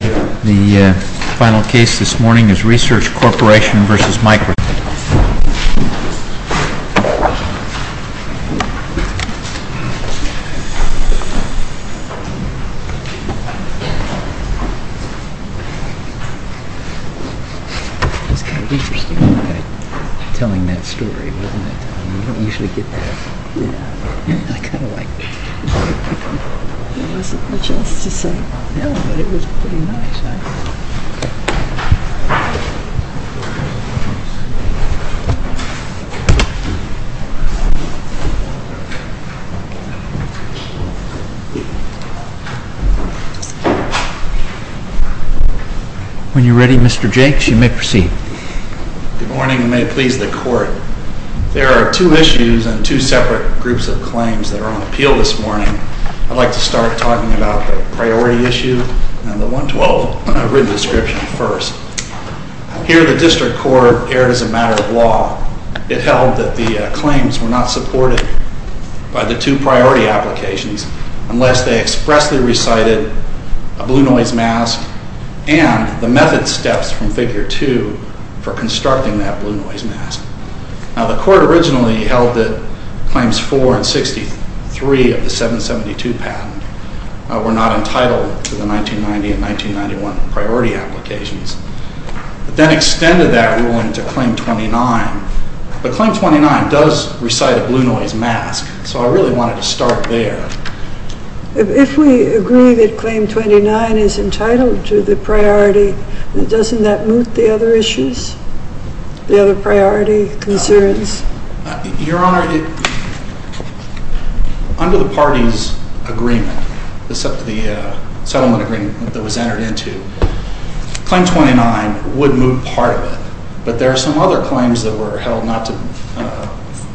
The final case this morning is Research Corporation v. Microsoft Corp. When you're ready, Mr. Jakes, you may proceed. Good morning and may it please the Court. There are two issues and two separate groups of claims that are on appeal this morning. I'd like to start talking about the priority issue and the 112 written description first. Here, the District Court erred as a matter of law. It held that the claims were not supported by the two priority applications unless they expressly recited a blue noise mask and the method steps from Figure 2 for constructing that blue noise mask. Now, the Court originally held that Claims 4 and 63 of the 772 patent were not entitled to the 1990 and 1991 priority applications, but then extended that ruling to Claim 29. But Claim 29 does recite a blue noise mask, so I really wanted to start there. If we agree that Claim 29 is entitled to the priority, doesn't that moot the other issues, the other priority concerns? Your Honor, under the parties' agreement, the settlement agreement that was entered into, Claim 29 would moot part of it. But there are some other claims that were held not to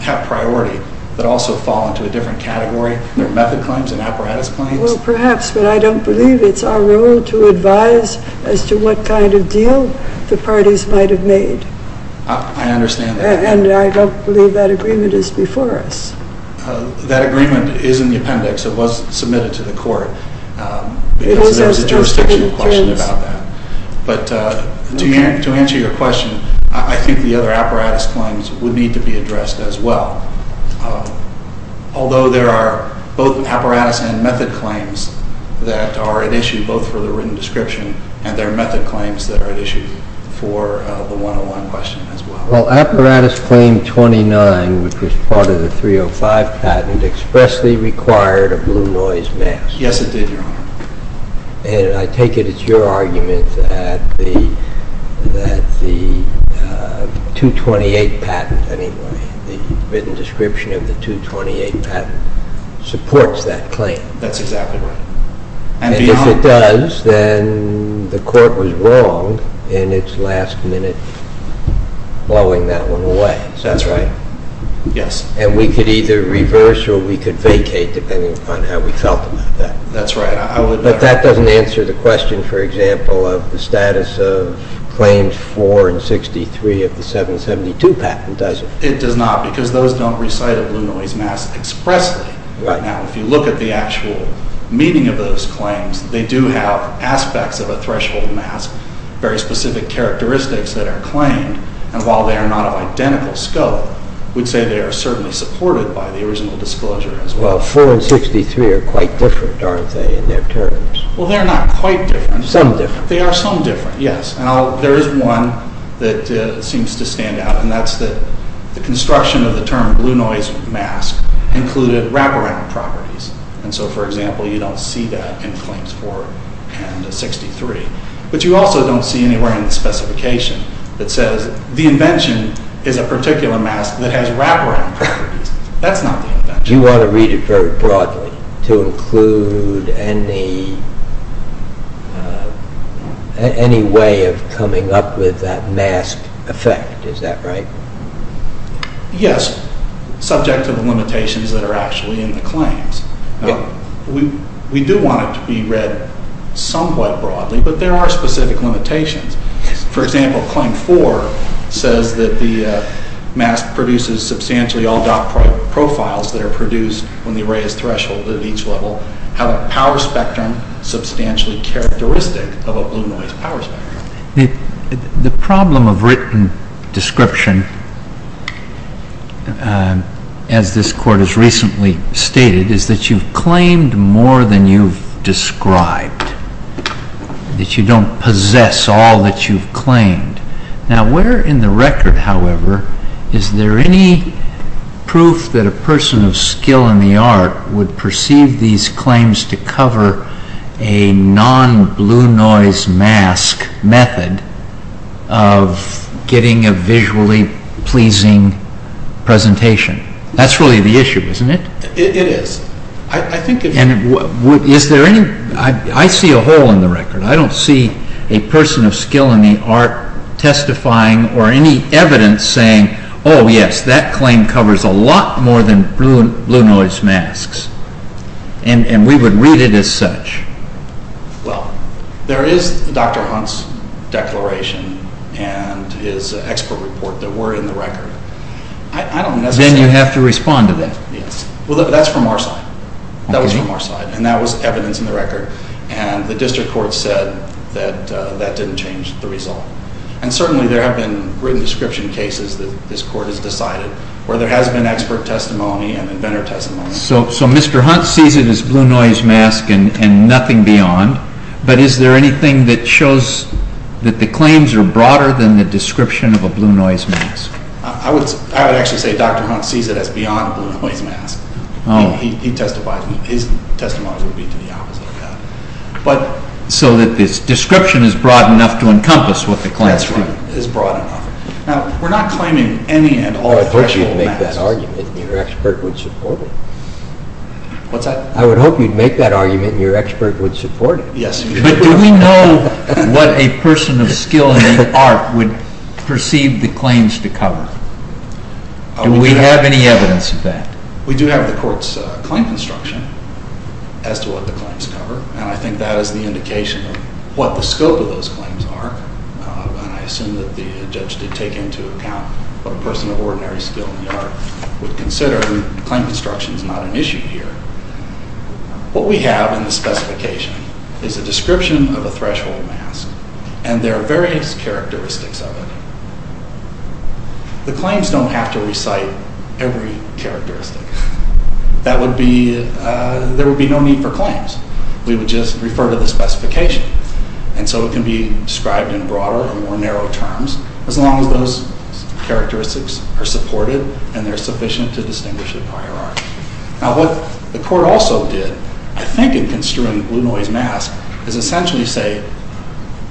have priority that also fall into a different category. There are method claims and apparatus claims. Well, perhaps, but I don't believe it's our role to advise as to what kind of deal the parties might have made. I understand that. And I don't believe that agreement is before us. That agreement is in the appendix. It was submitted to the Court because there was a jurisdictional question about that. But to answer your question, I think the other apparatus claims would need to be addressed as well. Although there are both apparatus and method claims that are at issue both for the written description and there are method claims that are at issue for the 101 question as well. Well, Apparatus Claim 29, which was part of the 305 patent, expressly required a blue noise mask. Yes, it did, Your Honor. And I take it it's your argument that the 228 patent, anyway, the written description of the 228 patent supports that claim. That's exactly right. And if it does, then the Court was wrong in its last minute blowing that one away. Is that right? Yes. And we could either reverse or we could vacate depending upon how we felt about that. That's right. But that doesn't answer the question, for example, of the status of Claims 4 and 63 of the 772 patent, does it? It does not because those don't recite a blue noise mask expressly. Now, if you look at the actual meaning of those claims, they do have aspects of a threshold mask, very specific characteristics that are claimed, and while they are not of identical scope, we'd say they are certainly supported by the original disclosure as well. Well, 4 and 63 are quite different, aren't they, in their terms? Well, they're not quite different. Some different. They are some different, yes. Now, there is one that seems to stand out, and that's the construction of the term blue noise mask included wraparound properties. And so, for example, you don't see that in Claims 4 and 63. But you also don't see anywhere in the specification that says the invention is a particular mask that has wraparound properties. That's not the invention. You want to read it very broadly to include any way of coming up with that mask effect. Is that right? Yes, subject to the limitations that are actually in the claims. We do want it to be read somewhat broadly, but there are specific limitations. For example, Claim 4 says that the mask produces substantially all dock profiles that are produced when the array is thresholded at each level have a power spectrum substantially characteristic of a blue noise power spectrum. The problem of written description, as this Court has recently stated, is that you've claimed more than you've described, Now, where in the record, however, is there any proof that a person of skill in the art would perceive these claims to cover a non-blue noise mask method of getting a visually pleasing presentation? That's really the issue, isn't it? It is. I think if... Is there any... I see a hole in the record. I don't see a person of skill in the art testifying or any evidence saying, Oh, yes, that claim covers a lot more than blue noise masks, and we would read it as such. Well, there is Dr. Hunt's declaration and his expert report that were in the record. Then you have to respond to that. Well, that's from our side. And the district court said that that didn't change the result. And certainly there have been written description cases that this Court has decided where there has been expert testimony and inventor testimony. So Mr. Hunt sees it as blue noise mask and nothing beyond, but is there anything that shows that the claims are broader than the description of a blue noise mask? I would actually say Dr. Hunt sees it as beyond a blue noise mask. He testifies. His testimony would be to the opposite of that. So that this description is broad enough to encompass what the claims are. That's right. It's broad enough. Now, we're not claiming any and all professional masks. I would hope you'd make that argument and your expert would support it. What's that? I would hope you'd make that argument and your expert would support it. But do we know what a person of skill in the art would perceive the claims to cover? Do we have any evidence of that? We do have the Court's claim construction as to what the claims cover, and I think that is the indication of what the scope of those claims are. And I assume that the judge did take into account what a person of ordinary skill in the art would consider. Claim construction is not an issue here. What we have in the specification is a description of a threshold mask, and there are various characteristics of it. The claims don't have to recite every characteristic. That would be—there would be no need for claims. We would just refer to the specification. And so it can be described in broader and more narrow terms, as long as those characteristics are supported and they're sufficient to distinguish the prior art. Now, what the Court also did, I think, in construing the blue noise mask, is essentially say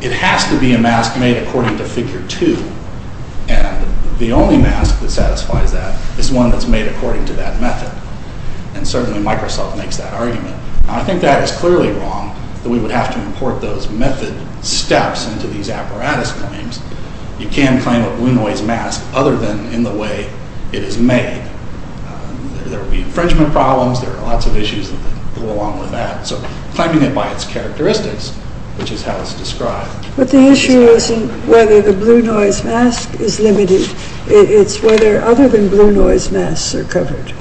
it has to be a mask made according to Figure 2, and the only mask that satisfies that is one that's made according to that method. And certainly Microsoft makes that argument. Now, I think that is clearly wrong, that we would have to import those method steps into these apparatus claims. You can't claim a blue noise mask other than in the way it is made. There would be infringement problems. There are lots of issues that go along with that. So claiming it by its characteristics, which is how it's described— But the issue isn't whether the blue noise mask is limited. It's whether other than blue noise masks are covered.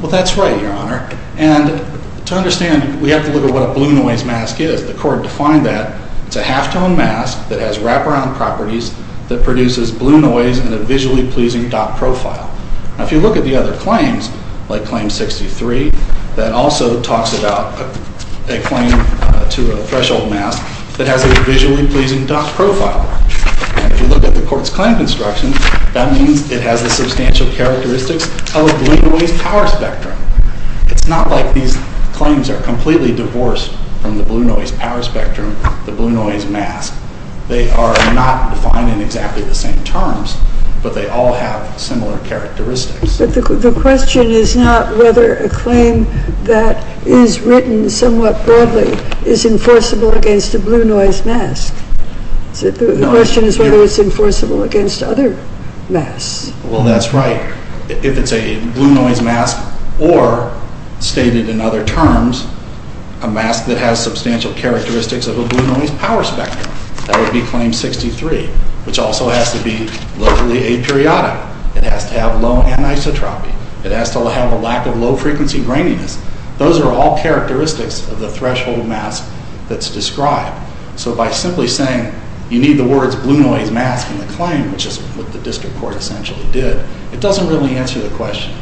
Well, that's right, Your Honor. And to understand, we have to look at what a blue noise mask is. The Court defined that it's a halftone mask that has wraparound properties that produces blue noise in a visually pleasing dot profile. Now, if you look at the other claims, like Claim 63, that also talks about a claim to a threshold mask that has a visually pleasing dot profile. And if you look at the Court's claim construction, that means it has the substantial characteristics of a blue noise power spectrum. It's not like these claims are completely divorced from the blue noise power spectrum, the blue noise mask. They are not defined in exactly the same terms, but they all have similar characteristics. But the question is not whether a claim that is written somewhat broadly is enforceable against a blue noise mask. The question is whether it's enforceable against other masks. Well, that's right. If it's a blue noise mask or, stated in other terms, a mask that has substantial characteristics of a blue noise power spectrum, that would be Claim 63, which also has to be locally aperiodic. It has to have low anisotropy. It has to have a lack of low-frequency graininess. Those are all characteristics of the threshold mask that's described. So by simply saying you need the words blue noise mask in the claim, which is what the District Court essentially did, it doesn't really answer the question.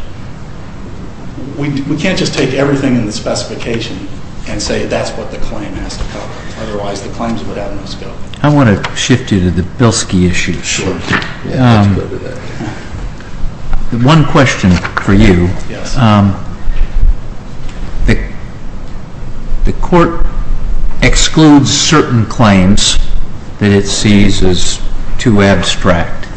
We can't just take everything in the specification and say that's what the claim has to cover. Otherwise, the claims would have no scope. I want to shift you to the Bilski issue. Sure. Let's go to that. One question for you. Yes. The Court excludes certain claims that it sees as too abstract,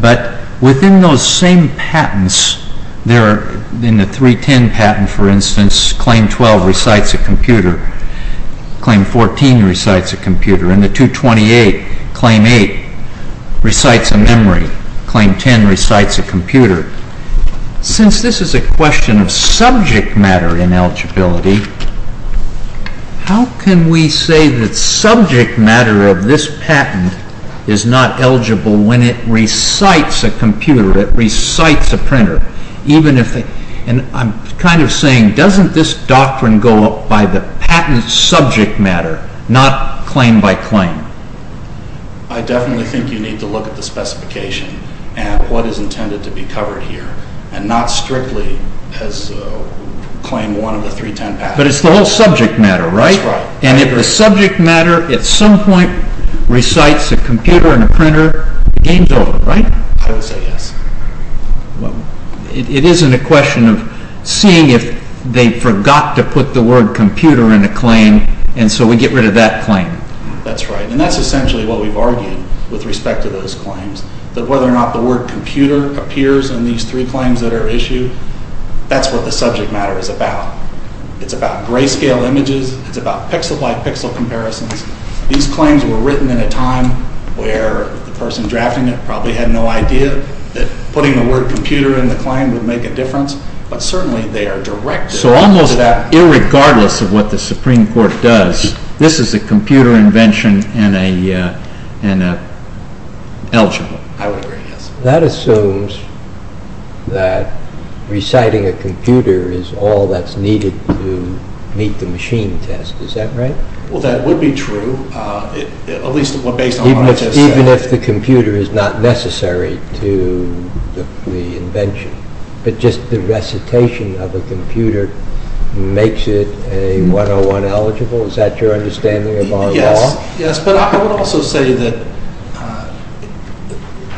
but within those same patents, in the 310 patent, for instance, Claim 12 recites a computer. Claim 14 recites a computer. In the 228, Claim 8 recites a memory. Claim 10 recites a computer. Since this is a question of subject matter in eligibility, how can we say that subject matter of this patent is not eligible when it recites a computer, it recites a printer? I'm kind of saying, doesn't this doctrine go up by the patent subject matter, not claim by claim? I definitely think you need to look at the specification and what is intended to be covered here, and not strictly as Claim 1 of the 310 patent. But it's the whole subject matter, right? That's right. And if the subject matter at some point recites a computer and a printer, the game's over, right? I would say yes. It isn't a question of seeing if they forgot to put the word computer in a claim, and so we get rid of that claim. And that's essentially what we've argued with respect to those claims, that whether or not the word computer appears in these three claims that are issued, that's what the subject matter is about. It's about grayscale images. It's about pixel-by-pixel comparisons. These claims were written in a time where the person drafting it probably had no idea that putting the word computer in the claim would make a difference, but certainly they are directed to that. So almost irregardless of what the Supreme Court does, this is a computer invention and an eligible. I would agree, yes. That assumes that reciting a computer is all that's needed to meet the machine test. Is that right? Well, that would be true, at least based on what I just said. Even if the computer is not necessary to the invention, but just the recitation of a computer makes it a 101 eligible? Is that your understanding of our law? Yes, but I would also say that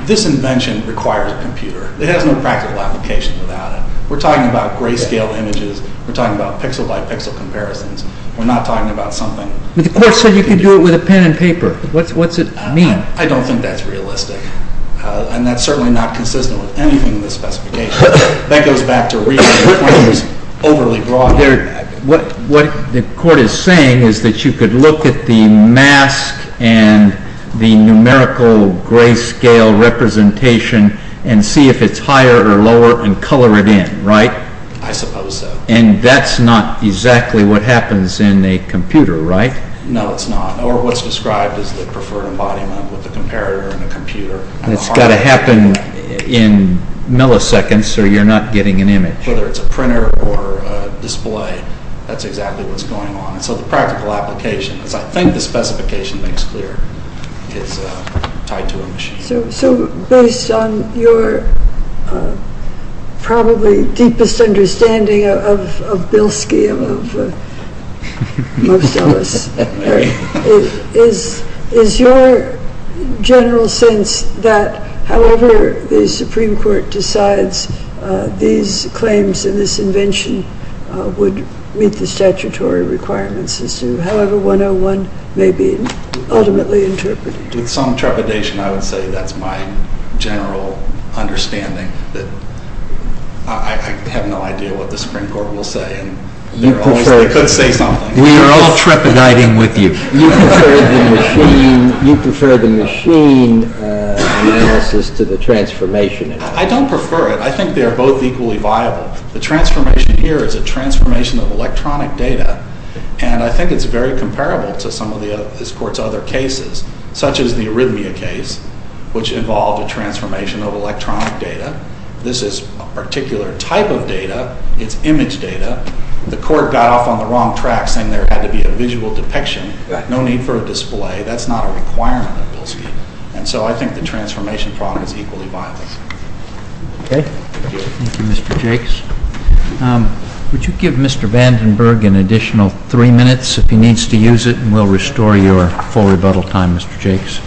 this invention requires a computer. It has no practical application without it. We're talking about grayscale images. We're talking about pixel-by-pixel comparisons. We're not talking about something computer. But the Court said you could do it with a pen and paper. What's it mean? I don't think that's realistic, and that's certainly not consistent with anything in the specification. That goes back to reading the claim was overly broad. What the Court is saying is that you could look at the mask and the numerical grayscale representation and see if it's higher or lower and color it in, right? I suppose so. And that's not exactly what happens in a computer, right? No, it's not. Or what's described is the preferred embodiment with a comparator and a computer. It's got to happen in milliseconds, or you're not getting an image. Whether it's a printer or a display, that's exactly what's going on. And so the practical application, as I think the specification makes clear, is tied to a machine. So based on your probably deepest understanding of Bill's scheme, of most of us, is your general sense that however the Supreme Court decides these claims and this invention would meet the statutory requirements as to however 101 may be ultimately interpreted? With some trepidation, I would say that's my general understanding. I have no idea what the Supreme Court will say. They could say something. We are all trepidating with you. You prefer the machine analysis to the transformation analysis. I don't prefer it. I think they are both equally viable. The transformation here is a transformation of electronic data, and I think it's very comparable to some of this Court's other cases, such as the arrhythmia case, which involved a transformation of electronic data. This is a particular type of data. It's image data. The Court got off on the wrong track saying there had to be a visual depiction, no need for a display. That's not a requirement of Bill's scheme. And so I think the transformation problem is equally viable. Okay. Thank you, Mr. Jakes. Would you give Mr. Vandenberg an additional three minutes if he needs to use it, and we'll restore your full rebuttal time, Mr. Jakes.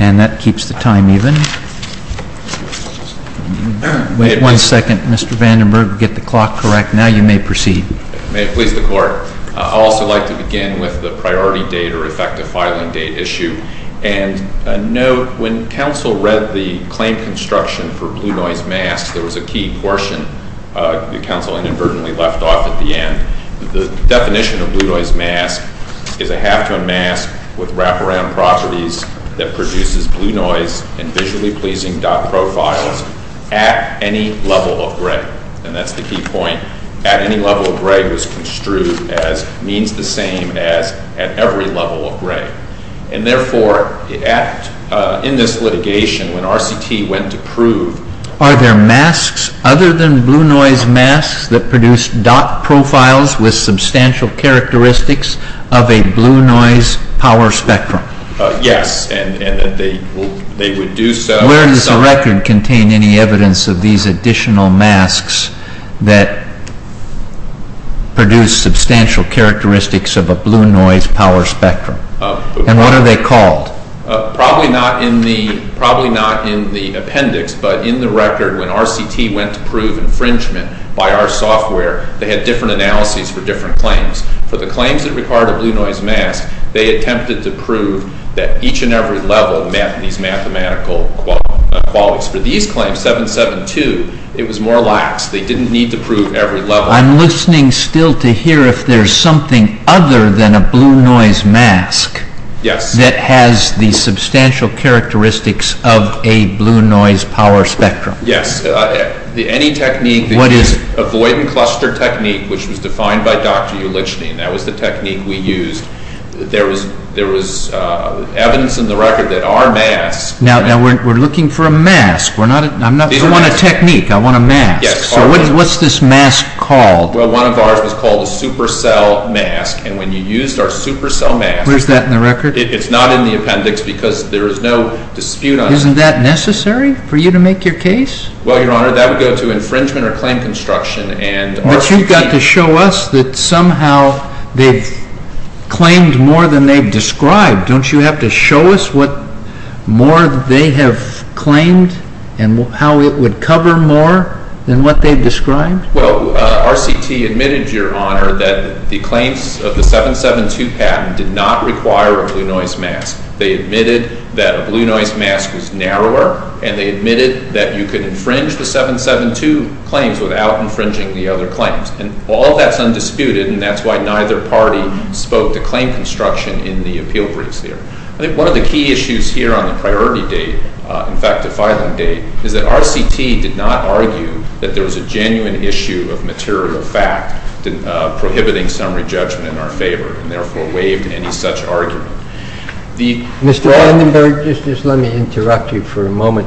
And that keeps the time even. Wait one second, Mr. Vandenberg. Get the clock correct. Now you may proceed. May it please the Court. I'd also like to begin with the priority date or effective filing date issue, and note when counsel read the claim construction for blue noise masks, there was a key portion that counsel inadvertently left off at the end. The definition of blue noise mask is a half-ton mask with wraparound properties that produces blue noise and visually pleasing dot profiles at any level of gray. And that's the key point. At any level of gray was construed as means the same as at every level of gray. And therefore, in this litigation, when RCT went to prove Are there masks other than blue noise masks that produce dot profiles with substantial characteristics of a blue noise power spectrum? Yes, and they would do so. Where does the record contain any evidence of these additional masks that produce substantial characteristics of a blue noise power spectrum? And what are they called? Probably not in the appendix, but in the record, when RCT went to prove infringement by our software, they had different analyses for different claims. For the claims that required a blue noise mask, they attempted to prove that each and every level met these mathematical qualities. For these claims, 772, it was more lax. They didn't need to prove every level. I'm listening still to hear if there's something other than a blue noise mask that has the substantial characteristics of a blue noise power spectrum. Yes, any technique that is avoidant cluster technique, which was defined by Dr. Ulichny, and that was the technique we used, there was evidence in the record that our masks Now, we're looking for a mask. I want a technique. I want a mask. So what's this mask called? Well, one of ours was called a supercell mask, and when you used our supercell mask, Where's that in the record? It's not in the appendix because there is no dispute on it. Isn't that necessary for you to make your case? Well, Your Honor, that would go to infringement or claim construction. But you've got to show us that somehow they've claimed more than they've described. Don't you have to show us what more they have claimed and how it would cover more than what they've described? Well, RCT admitted, Your Honor, that the claims of the 772 patent did not require a blue noise mask. They admitted that a blue noise mask was narrower, and they admitted that you could infringe the 772 claims without infringing the other claims. And all that's undisputed, and that's why neither party spoke to claim construction in the appeal briefs there. I think one of the key issues here on the priority date, in fact, the filing date, is that RCT did not argue that there was a genuine issue of material fact prohibiting summary judgment in our favor and therefore waived any such argument. Mr. Vandenberg, just let me interrupt you for a moment.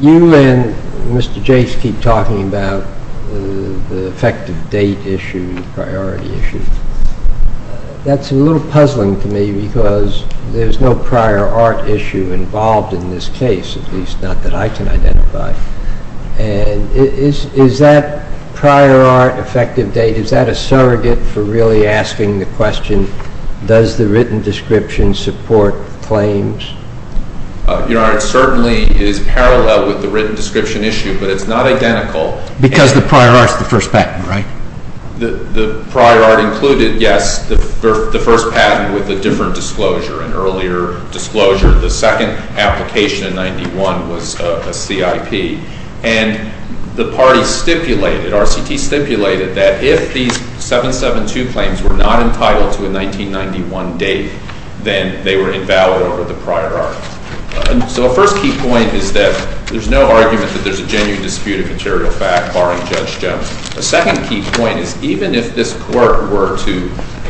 You and Mr. Jase keep talking about the effective date issue, the priority issue. That's a little puzzling to me because there's no prior art issue involved in this case, at least not that I can identify. And is that prior art, effective date, is that a surrogate for really asking the question, does the written description support claims? Your Honor, it certainly is parallel with the written description issue, but it's not identical. Because the prior art is the first patent, right? The prior art included, yes, the first patent with a different disclosure, an earlier disclosure. The second application in 1991 was a CIP. And the party stipulated, RCT stipulated, that if these 772 claims were not entitled to a 1991 date, then they were invalid over the prior art. So the first key point is that there's no argument that there's a genuine dispute of material fact barring Judge Jones. The second key point is even if this Court were to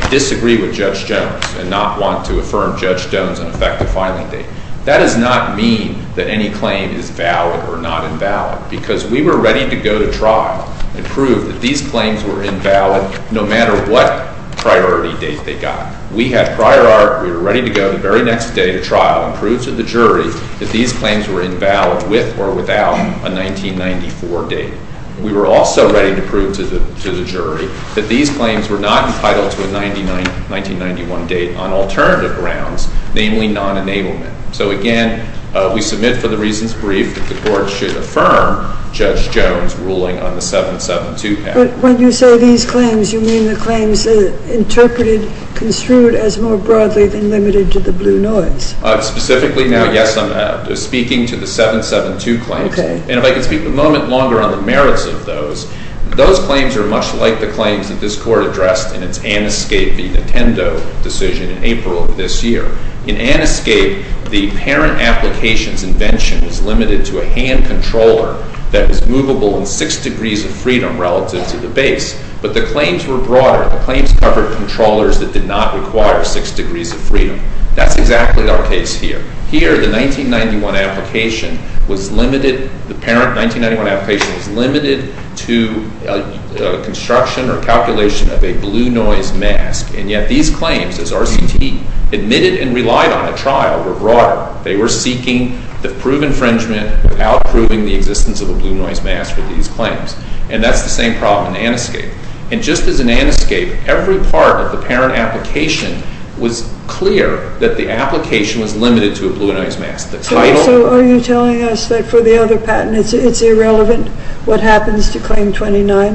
disagree with Judge Jones and not want to affirm Judge Jones an effective filing date, that does not mean that any claim is valid or not invalid because we were ready to go to trial and prove that these claims were invalid no matter what priority date they got. We had prior art. We were ready to go the very next day to trial and prove to the jury that these claims were invalid with or without a 1994 date. We were also ready to prove to the jury that these claims were not entitled to a 1991 date on alternative grounds, namely non-enablement. So again, we submit for the reasons briefed that the Court should affirm Judge Jones' ruling on the 772 patent. But when you say these claims, you mean the claims interpreted, construed, as more broadly than limited to the blue noise. Specifically, now, yes, I'm speaking to the 772 claims. And if I could speak a moment longer on the merits of those, those claims are much like the claims that this Court addressed in its Aniscape v. Nintendo decision in April of this year. In Aniscape, the parent application's invention is limited to a hand controller that is movable in six degrees of freedom relative to the base, but the claims were broader. The claims covered controllers that did not require six degrees of freedom. That's exactly our case here. Here, the 1991 application was limited, the parent 1991 application was limited to construction or calculation of a blue noise mask. And yet these claims, as RCT admitted and relied on at trial, were broader. They were seeking to prove infringement without proving the existence of a blue noise mask for these claims. And that's the same problem in Aniscape. And just as in Aniscape, every part of the parent application was clear that the application was limited to a blue noise mask. The title... So are you telling us that for the other patents it's irrelevant what happens to Claim 29?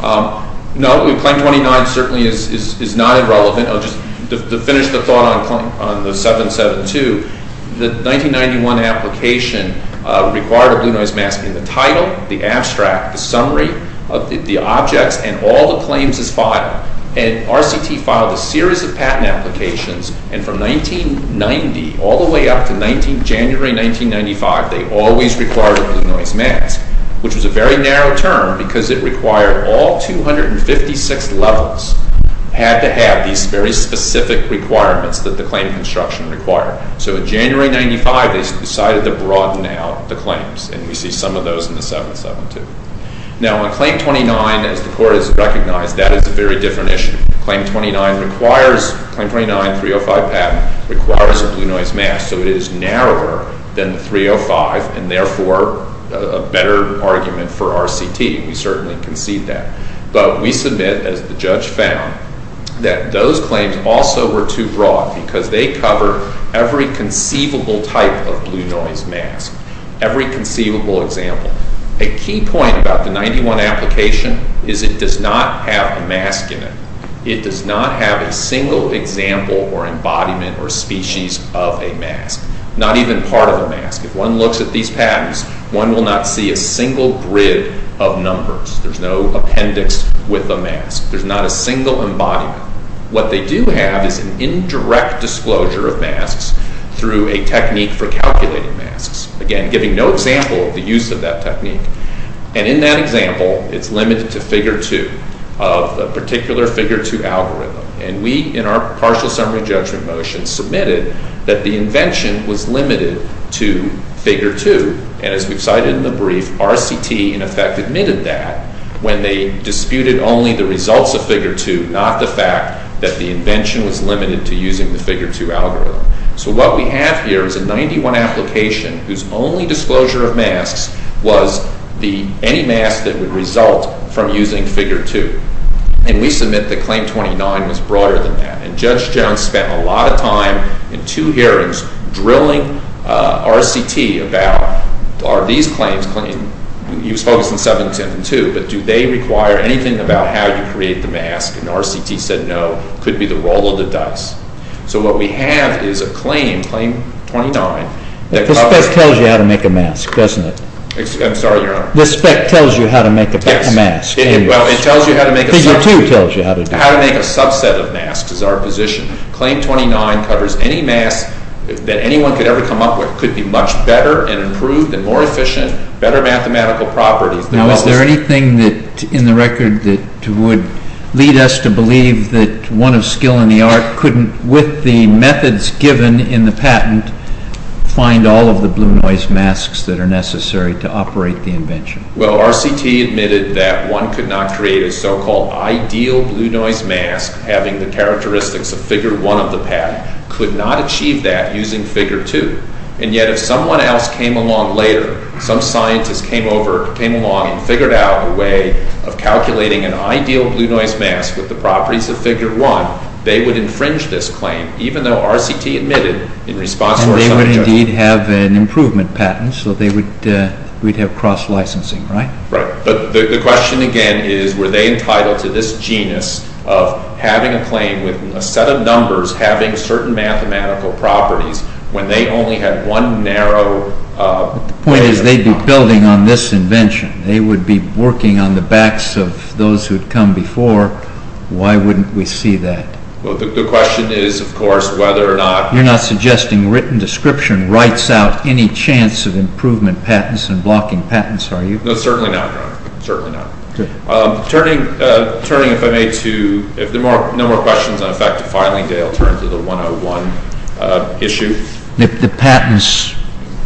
No, Claim 29 certainly is not irrelevant. I'll just finish the thought on the 772. The 1991 application required a blue noise mask in the title, the abstract, the summary of the objects, and all the claims as filed. And RCT filed a series of patent applications, and from 1990 all the way up to January 1995, they always required a blue noise mask, which was a very narrow term because it required all 256 levels had to have these very specific requirements that the claim construction required. So in January 1995, they decided to broaden out the claims. And we see some of those in the 772. Now on Claim 29, as the Court has recognized, that is a very different issue. Claim 29 requires... Claim 29, 305 patent, requires a blue noise mask, so it is narrower than 305 and therefore a better argument for RCT. We certainly concede that. But we submit, as the judge found, that those claims also were too broad because they cover every conceivable type of blue noise mask, every conceivable example. A key point about the 91 application is it does not have a mask in it. It does not have a single example or embodiment or species of a mask, not even part of a mask. If one looks at these patents, one will not see a single grid of numbers. There's no appendix with a mask. There's not a single embodiment. What they do have is an indirect disclosure of masks through a technique for calculating masks, again, giving no example of the use of that technique. And in that example, it's limited to figure 2 of the particular figure 2 algorithm. And we, in our partial summary judgment motion, submitted that the invention was limited to figure 2. And as we've cited in the brief, RCT, in effect, admitted that when they disputed only the results of figure 2, not the fact that the invention was limited to using the figure 2 algorithm. So what we have here is a 91 application whose only disclosure of masks was any mask that would result from using figure 2. And we submit that claim 29 was broader than that. And Judge Jones spent a lot of time in 2 hearings drilling RCT about, are these claims... He was focused on 7, 10, and 2, but do they require anything about how you create the mask? And RCT said no. Could be the roll of the dice. So what we have is a claim, claim 29... This spec tells you how to make a mask, doesn't it? I'm sorry, Your Honor. This spec tells you how to make a mask. Yes. Well, it tells you how to make a... Figure 2 tells you how to do it. How to make a subset of masks is our position. Claim 29 covers any mask that anyone could ever come up with. Could be much better and improved and more efficient, better mathematical properties... Now, is there anything in the record that would lead us to believe that one of skill and the art couldn't, with the methods given in the patent, find all of the blue noise masks that are necessary to operate the invention? Well, RCT admitted that one could not create a so-called ideal blue noise mask having the characteristics of Figure 1 of the patent. Could not achieve that using Figure 2. And yet if someone else came along later, some scientist came along and figured out a way of calculating an ideal blue noise mask with the properties of Figure 1, they would infringe this claim, even though RCT admitted in response to our subject... And they would indeed have an improvement patent, so they would... we'd have cross-licensing, right? Right. But the question again is, were they entitled to this genius of having a claim with a set of numbers having certain mathematical properties when they only had one narrow... The point is they'd be building on this invention. They would be working on the backs of those who'd come before. Why wouldn't we see that? Well, the question is, of course, whether or not... You're not suggesting written description writes out any chance of improvement patents and blocking patents, are you? No, certainly not, Your Honor. Certainly not. Good. Turning, if I may, to... If there are no more questions on effective filing, I'll turn to the 101 issue. If the patents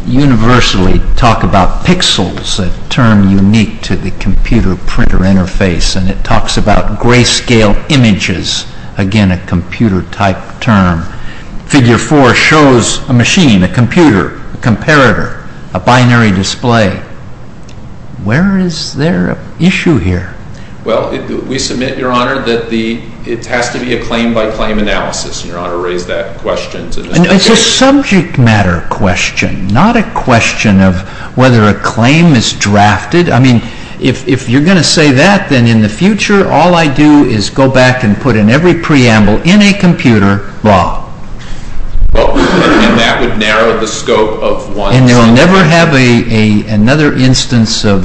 universally talk about pixels a term unique to the computer-printer interface, and it talks about grayscale images, again, a computer-type term. Figure 4 shows a machine, a computer, a comparator, a binary display. Where is there an issue here? Well, we submit, Your Honor, that it has to be a claim-by-claim analysis, and Your Honor raised that question... It's a subject matter question, not a question of whether a claim is drafted. I mean, if you're going to say that, then in the future all I do is go back and put in every preamble in a computer, blah. And that would narrow the scope of one... And we'll never have another instance of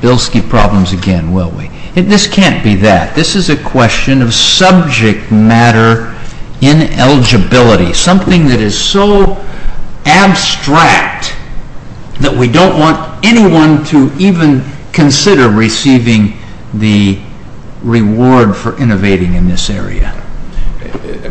Bilski problems again, will we? This can't be that. This is a question of subject matter ineligibility, something that is so abstract that we don't want anyone to even consider receiving the reward for innovating in this area.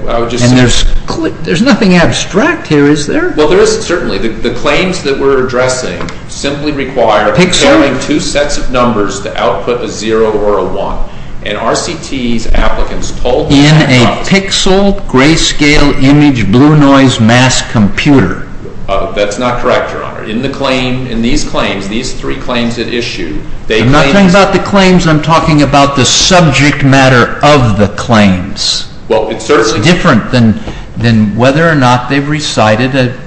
And there's nothing abstract here, is there? Well, there isn't, certainly. The claims that we're addressing simply require two sets of numbers to output a 0 or a 1. And RCT's applicants told us that... In a pixel grayscale image blue noise mass computer. That's not correct, Your Honor. In these claims, these three claims at issue... I'm not talking about the claims. I'm talking about the subject matter of the claims. Well, it certainly... It's different than whether or not they've recited it.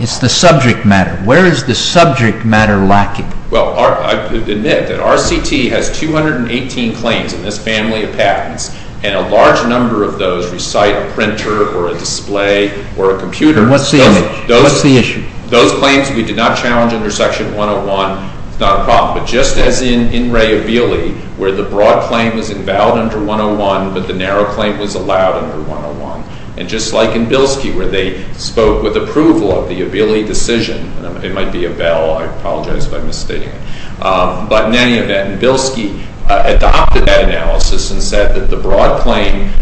It's the subject matter. Where is the subject matter lacking? Well, I admit that RCT has 218 claims in this family of patents, and a large number of those recite a printer or a display or a computer. And what's the image? What's the issue? Those claims we did not challenge under Section 101. It's not a problem. But just as in Ray Abele, where the broad claim was invalid under 101, but the narrow claim was allowed under 101. And just like in Bilski, where they spoke with approval of the Abele decision... It might be a bell. I apologize if I'm misstating it. But in any event, Bilski adopted that analysis and said that the broad claim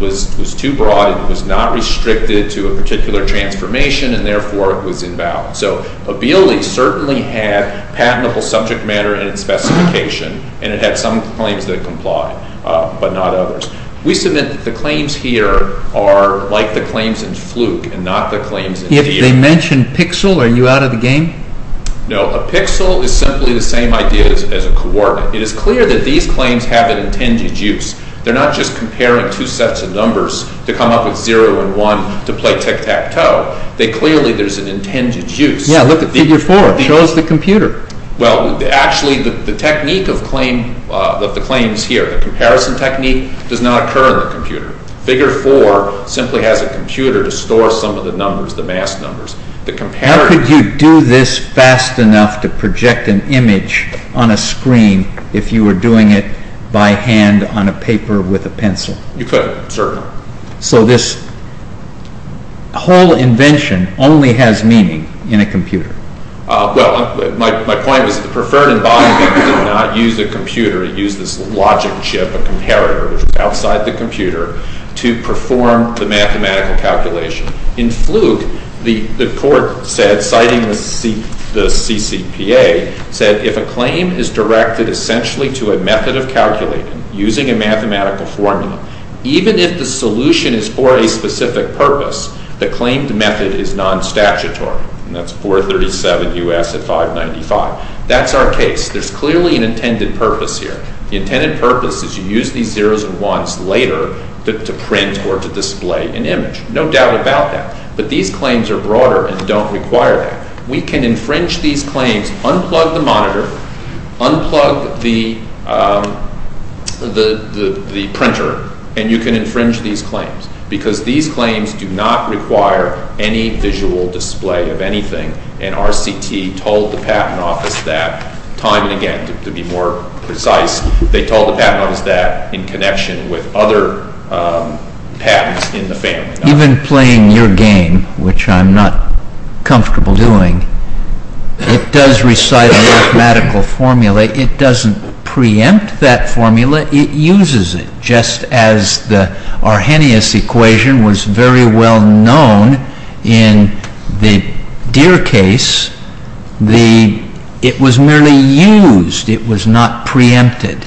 was too broad and was not restricted to a particular transformation, and therefore it was invalid. So Abele certainly had patentable subject matter in its specification, and it had some claims that complied, but not others. We submit that the claims here are like the claims in Fluke and not the claims in DA. If they mention PIXL, are you out of the game? No. A PIXL is simply the same idea as a coordinate. It is clear that these claims have an intended use. They're not just comparing two sets of numbers to come up with 0 and 1 to play tic-tac-toe. Clearly, there's an intended use. Yeah, look at Figure 4. It shows the computer. Well, actually, the technique of the claims here, the comparison technique, does not occur in the computer. Figure 4 simply has a computer to store some of the numbers, the masked numbers. How could you do this fast enough to project an image on a screen if you were doing it by hand on a paper with a pencil? You couldn't, certainly. So this whole invention only has meaning in a computer. Well, my point was that the Preferton-Bond method did not use a computer. It used this logic chip, a comparator, which was outside the computer, to perform the mathematical calculation. In Fluke, the court said, citing the CCPA, said, if a claim is directed essentially to a method of calculating using a mathematical formula, even if the solution is for a specific purpose, the claimed method is non-statutory. And that's 437 U.S. at 595. That's our case. There's clearly an intended purpose here. The intended purpose is you use these 0s and 1s later to print or to display an image. No doubt about that. But these claims are broader and don't require that. We can infringe these claims. Unplug the monitor. Unplug the printer. And you can infringe these claims because these claims do not require any visual display of anything. And RCT told the Patent Office that, time and again, to be more precise, they told the Patent Office that in connection with other patents in the family. Even playing your game, which I'm not comfortable doing, it does recite a mathematical formula. It doesn't preempt that formula. It uses it, just as the Arrhenius equation was very well known in the Deere case. It was merely used. It was not preempted.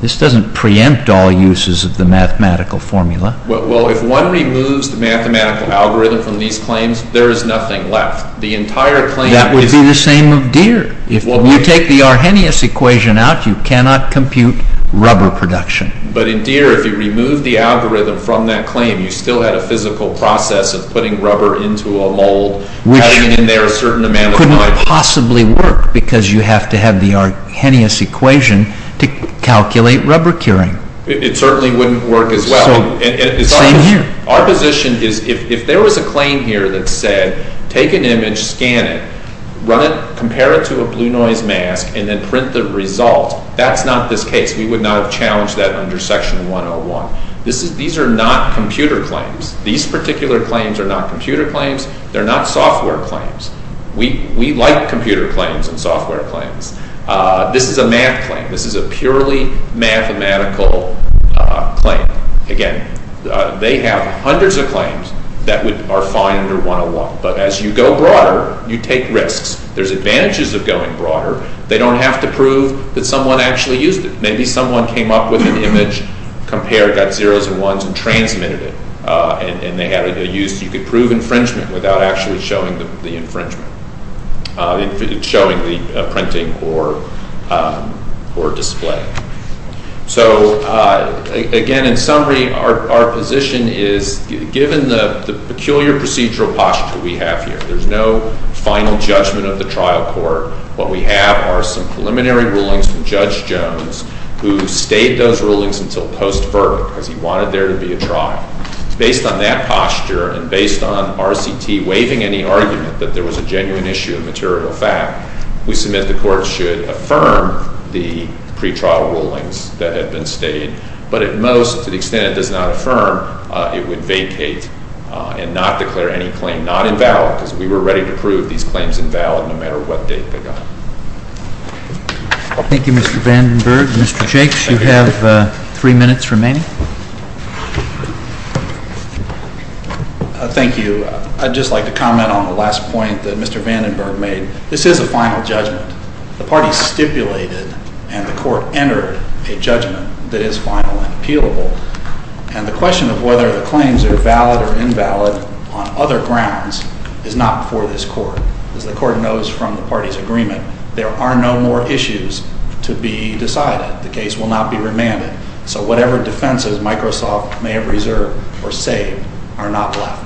This doesn't preempt all uses of the mathematical formula. Well, if one removes the mathematical algorithm from these claims, there is nothing left. The entire claim is... That would be the same of Deere. If you take the Arrhenius equation out, you cannot compute rubber production. But in Deere, if you remove the algorithm from that claim, you still had a physical process of putting rubber into a mold. Which couldn't possibly work because you have to have the Arrhenius equation to calculate rubber curing. It certainly wouldn't work as well. Same here. Our position is, if there was a claim here that said, take an image, scan it, compare it to a blue noise mask, and then print the result, that's not this case. We would not have challenged that under Section 101. These are not computer claims. These particular claims are not computer claims. They're not software claims. We like computer claims and software claims. This is a math claim. This is a purely mathematical claim. Again, they have hundreds of claims that are fine under 101. But as you go broader, you take risks. There's advantages of going broader. They don't have to prove that someone actually used it. Maybe someone came up with an image, compared it, got 0s and 1s, and transmitted it. You could prove infringement without actually showing the infringement. Showing the printing or display. Again, in summary, our position is, given the peculiar procedural posture we have here, there's no final judgment of the trial court. What we have are some preliminary rulings from Judge Jones, who stayed those rulings until post-verdict, because he wanted there to be a trial. Based on that posture, and based on RCT waiving any argument that there was a genuine issue of material fact, we submit the court should affirm the pretrial rulings that had been stayed. But at most, to the extent it does not affirm, it would vacate and not declare any claim not invalid, because we were ready to prove these claims invalid no matter what date they got. Thank you, Mr. Vandenberg. Mr. Jakes, you have 3 minutes remaining. Thank you. I'd just like to comment on the last point that Mr. Vandenberg made. This is a final judgment. The party stipulated and the court entered a judgment that is final and appealable. And the question of whether the claims are valid or invalid on other grounds is not before this court. As the court knows from the party's agreement, there are no more issues to be decided. The case will not be remanded. So whatever defenses Microsoft may have reserved or saved are not left.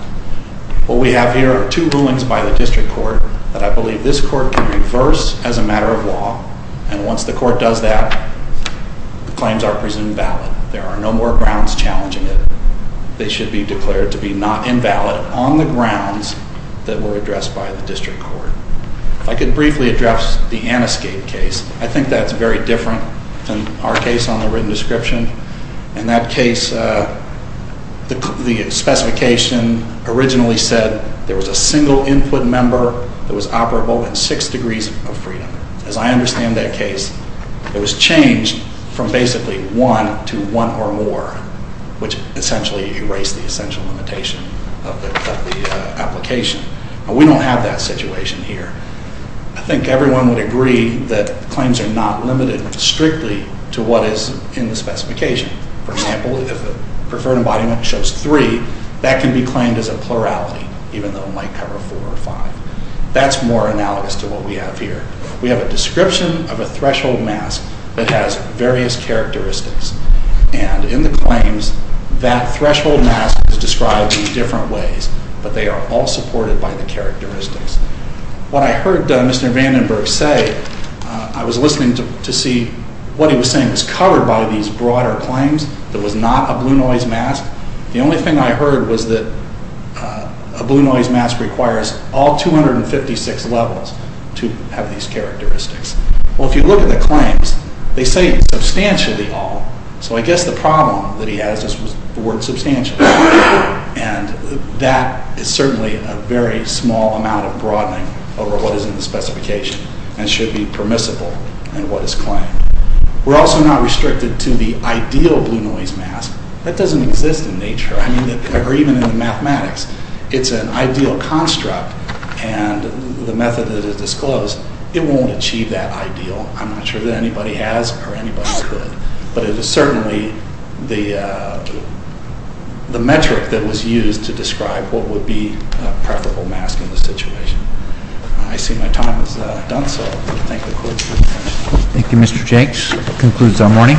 What we have here are two rulings by the district court that I believe this court can reverse as a matter of law. And once the court does that, the claims are presumed valid. There are no more grounds challenging it. They should be declared to be not invalid on the grounds that were addressed by the district court. If I could briefly address the Anescape case. I think that's very different than our case on the written description. In that case, the specification originally said there was a single input member that was operable and six degrees of freedom. As I understand that case, it was changed from basically one to one or more, which essentially erased the essential limitation of the application. We don't have that situation here. I think everyone would agree that claims are not limited strictly to what is in the specification. For example, if the preferred embodiment shows three, that can be claimed as a plurality, even though it might cover four or five. That's more analogous to what we have here. We have a description of a threshold mask that has various characteristics. And in the claims, that threshold mask is described in different ways, but they are all supported by the characteristics. What I heard Mr. Vandenberg say, I was listening to see what he was saying was covered by these broader claims that was not a blue noise mask. The only thing I heard was that a blue noise mask requires all 256 levels to have these characteristics. Well, if you look at the claims, they say substantially all. So I guess the problem that he has is the word substantial. And that is certainly a very small amount of broadening over what is in the specification and should be permissible in what is claimed. We're also not restricted to the ideal blue noise mask. That doesn't exist in nature, or even in the mathematics. It's an ideal construct, and the method that is disclosed, it won't achieve that ideal. I'm not sure that anybody has or anybody could. But it is certainly the metric that was used to describe what would be a preferable mask in this situation. I see my time is done, so I thank the court for attention. Thank you, Mr. Jenks. That concludes our morning.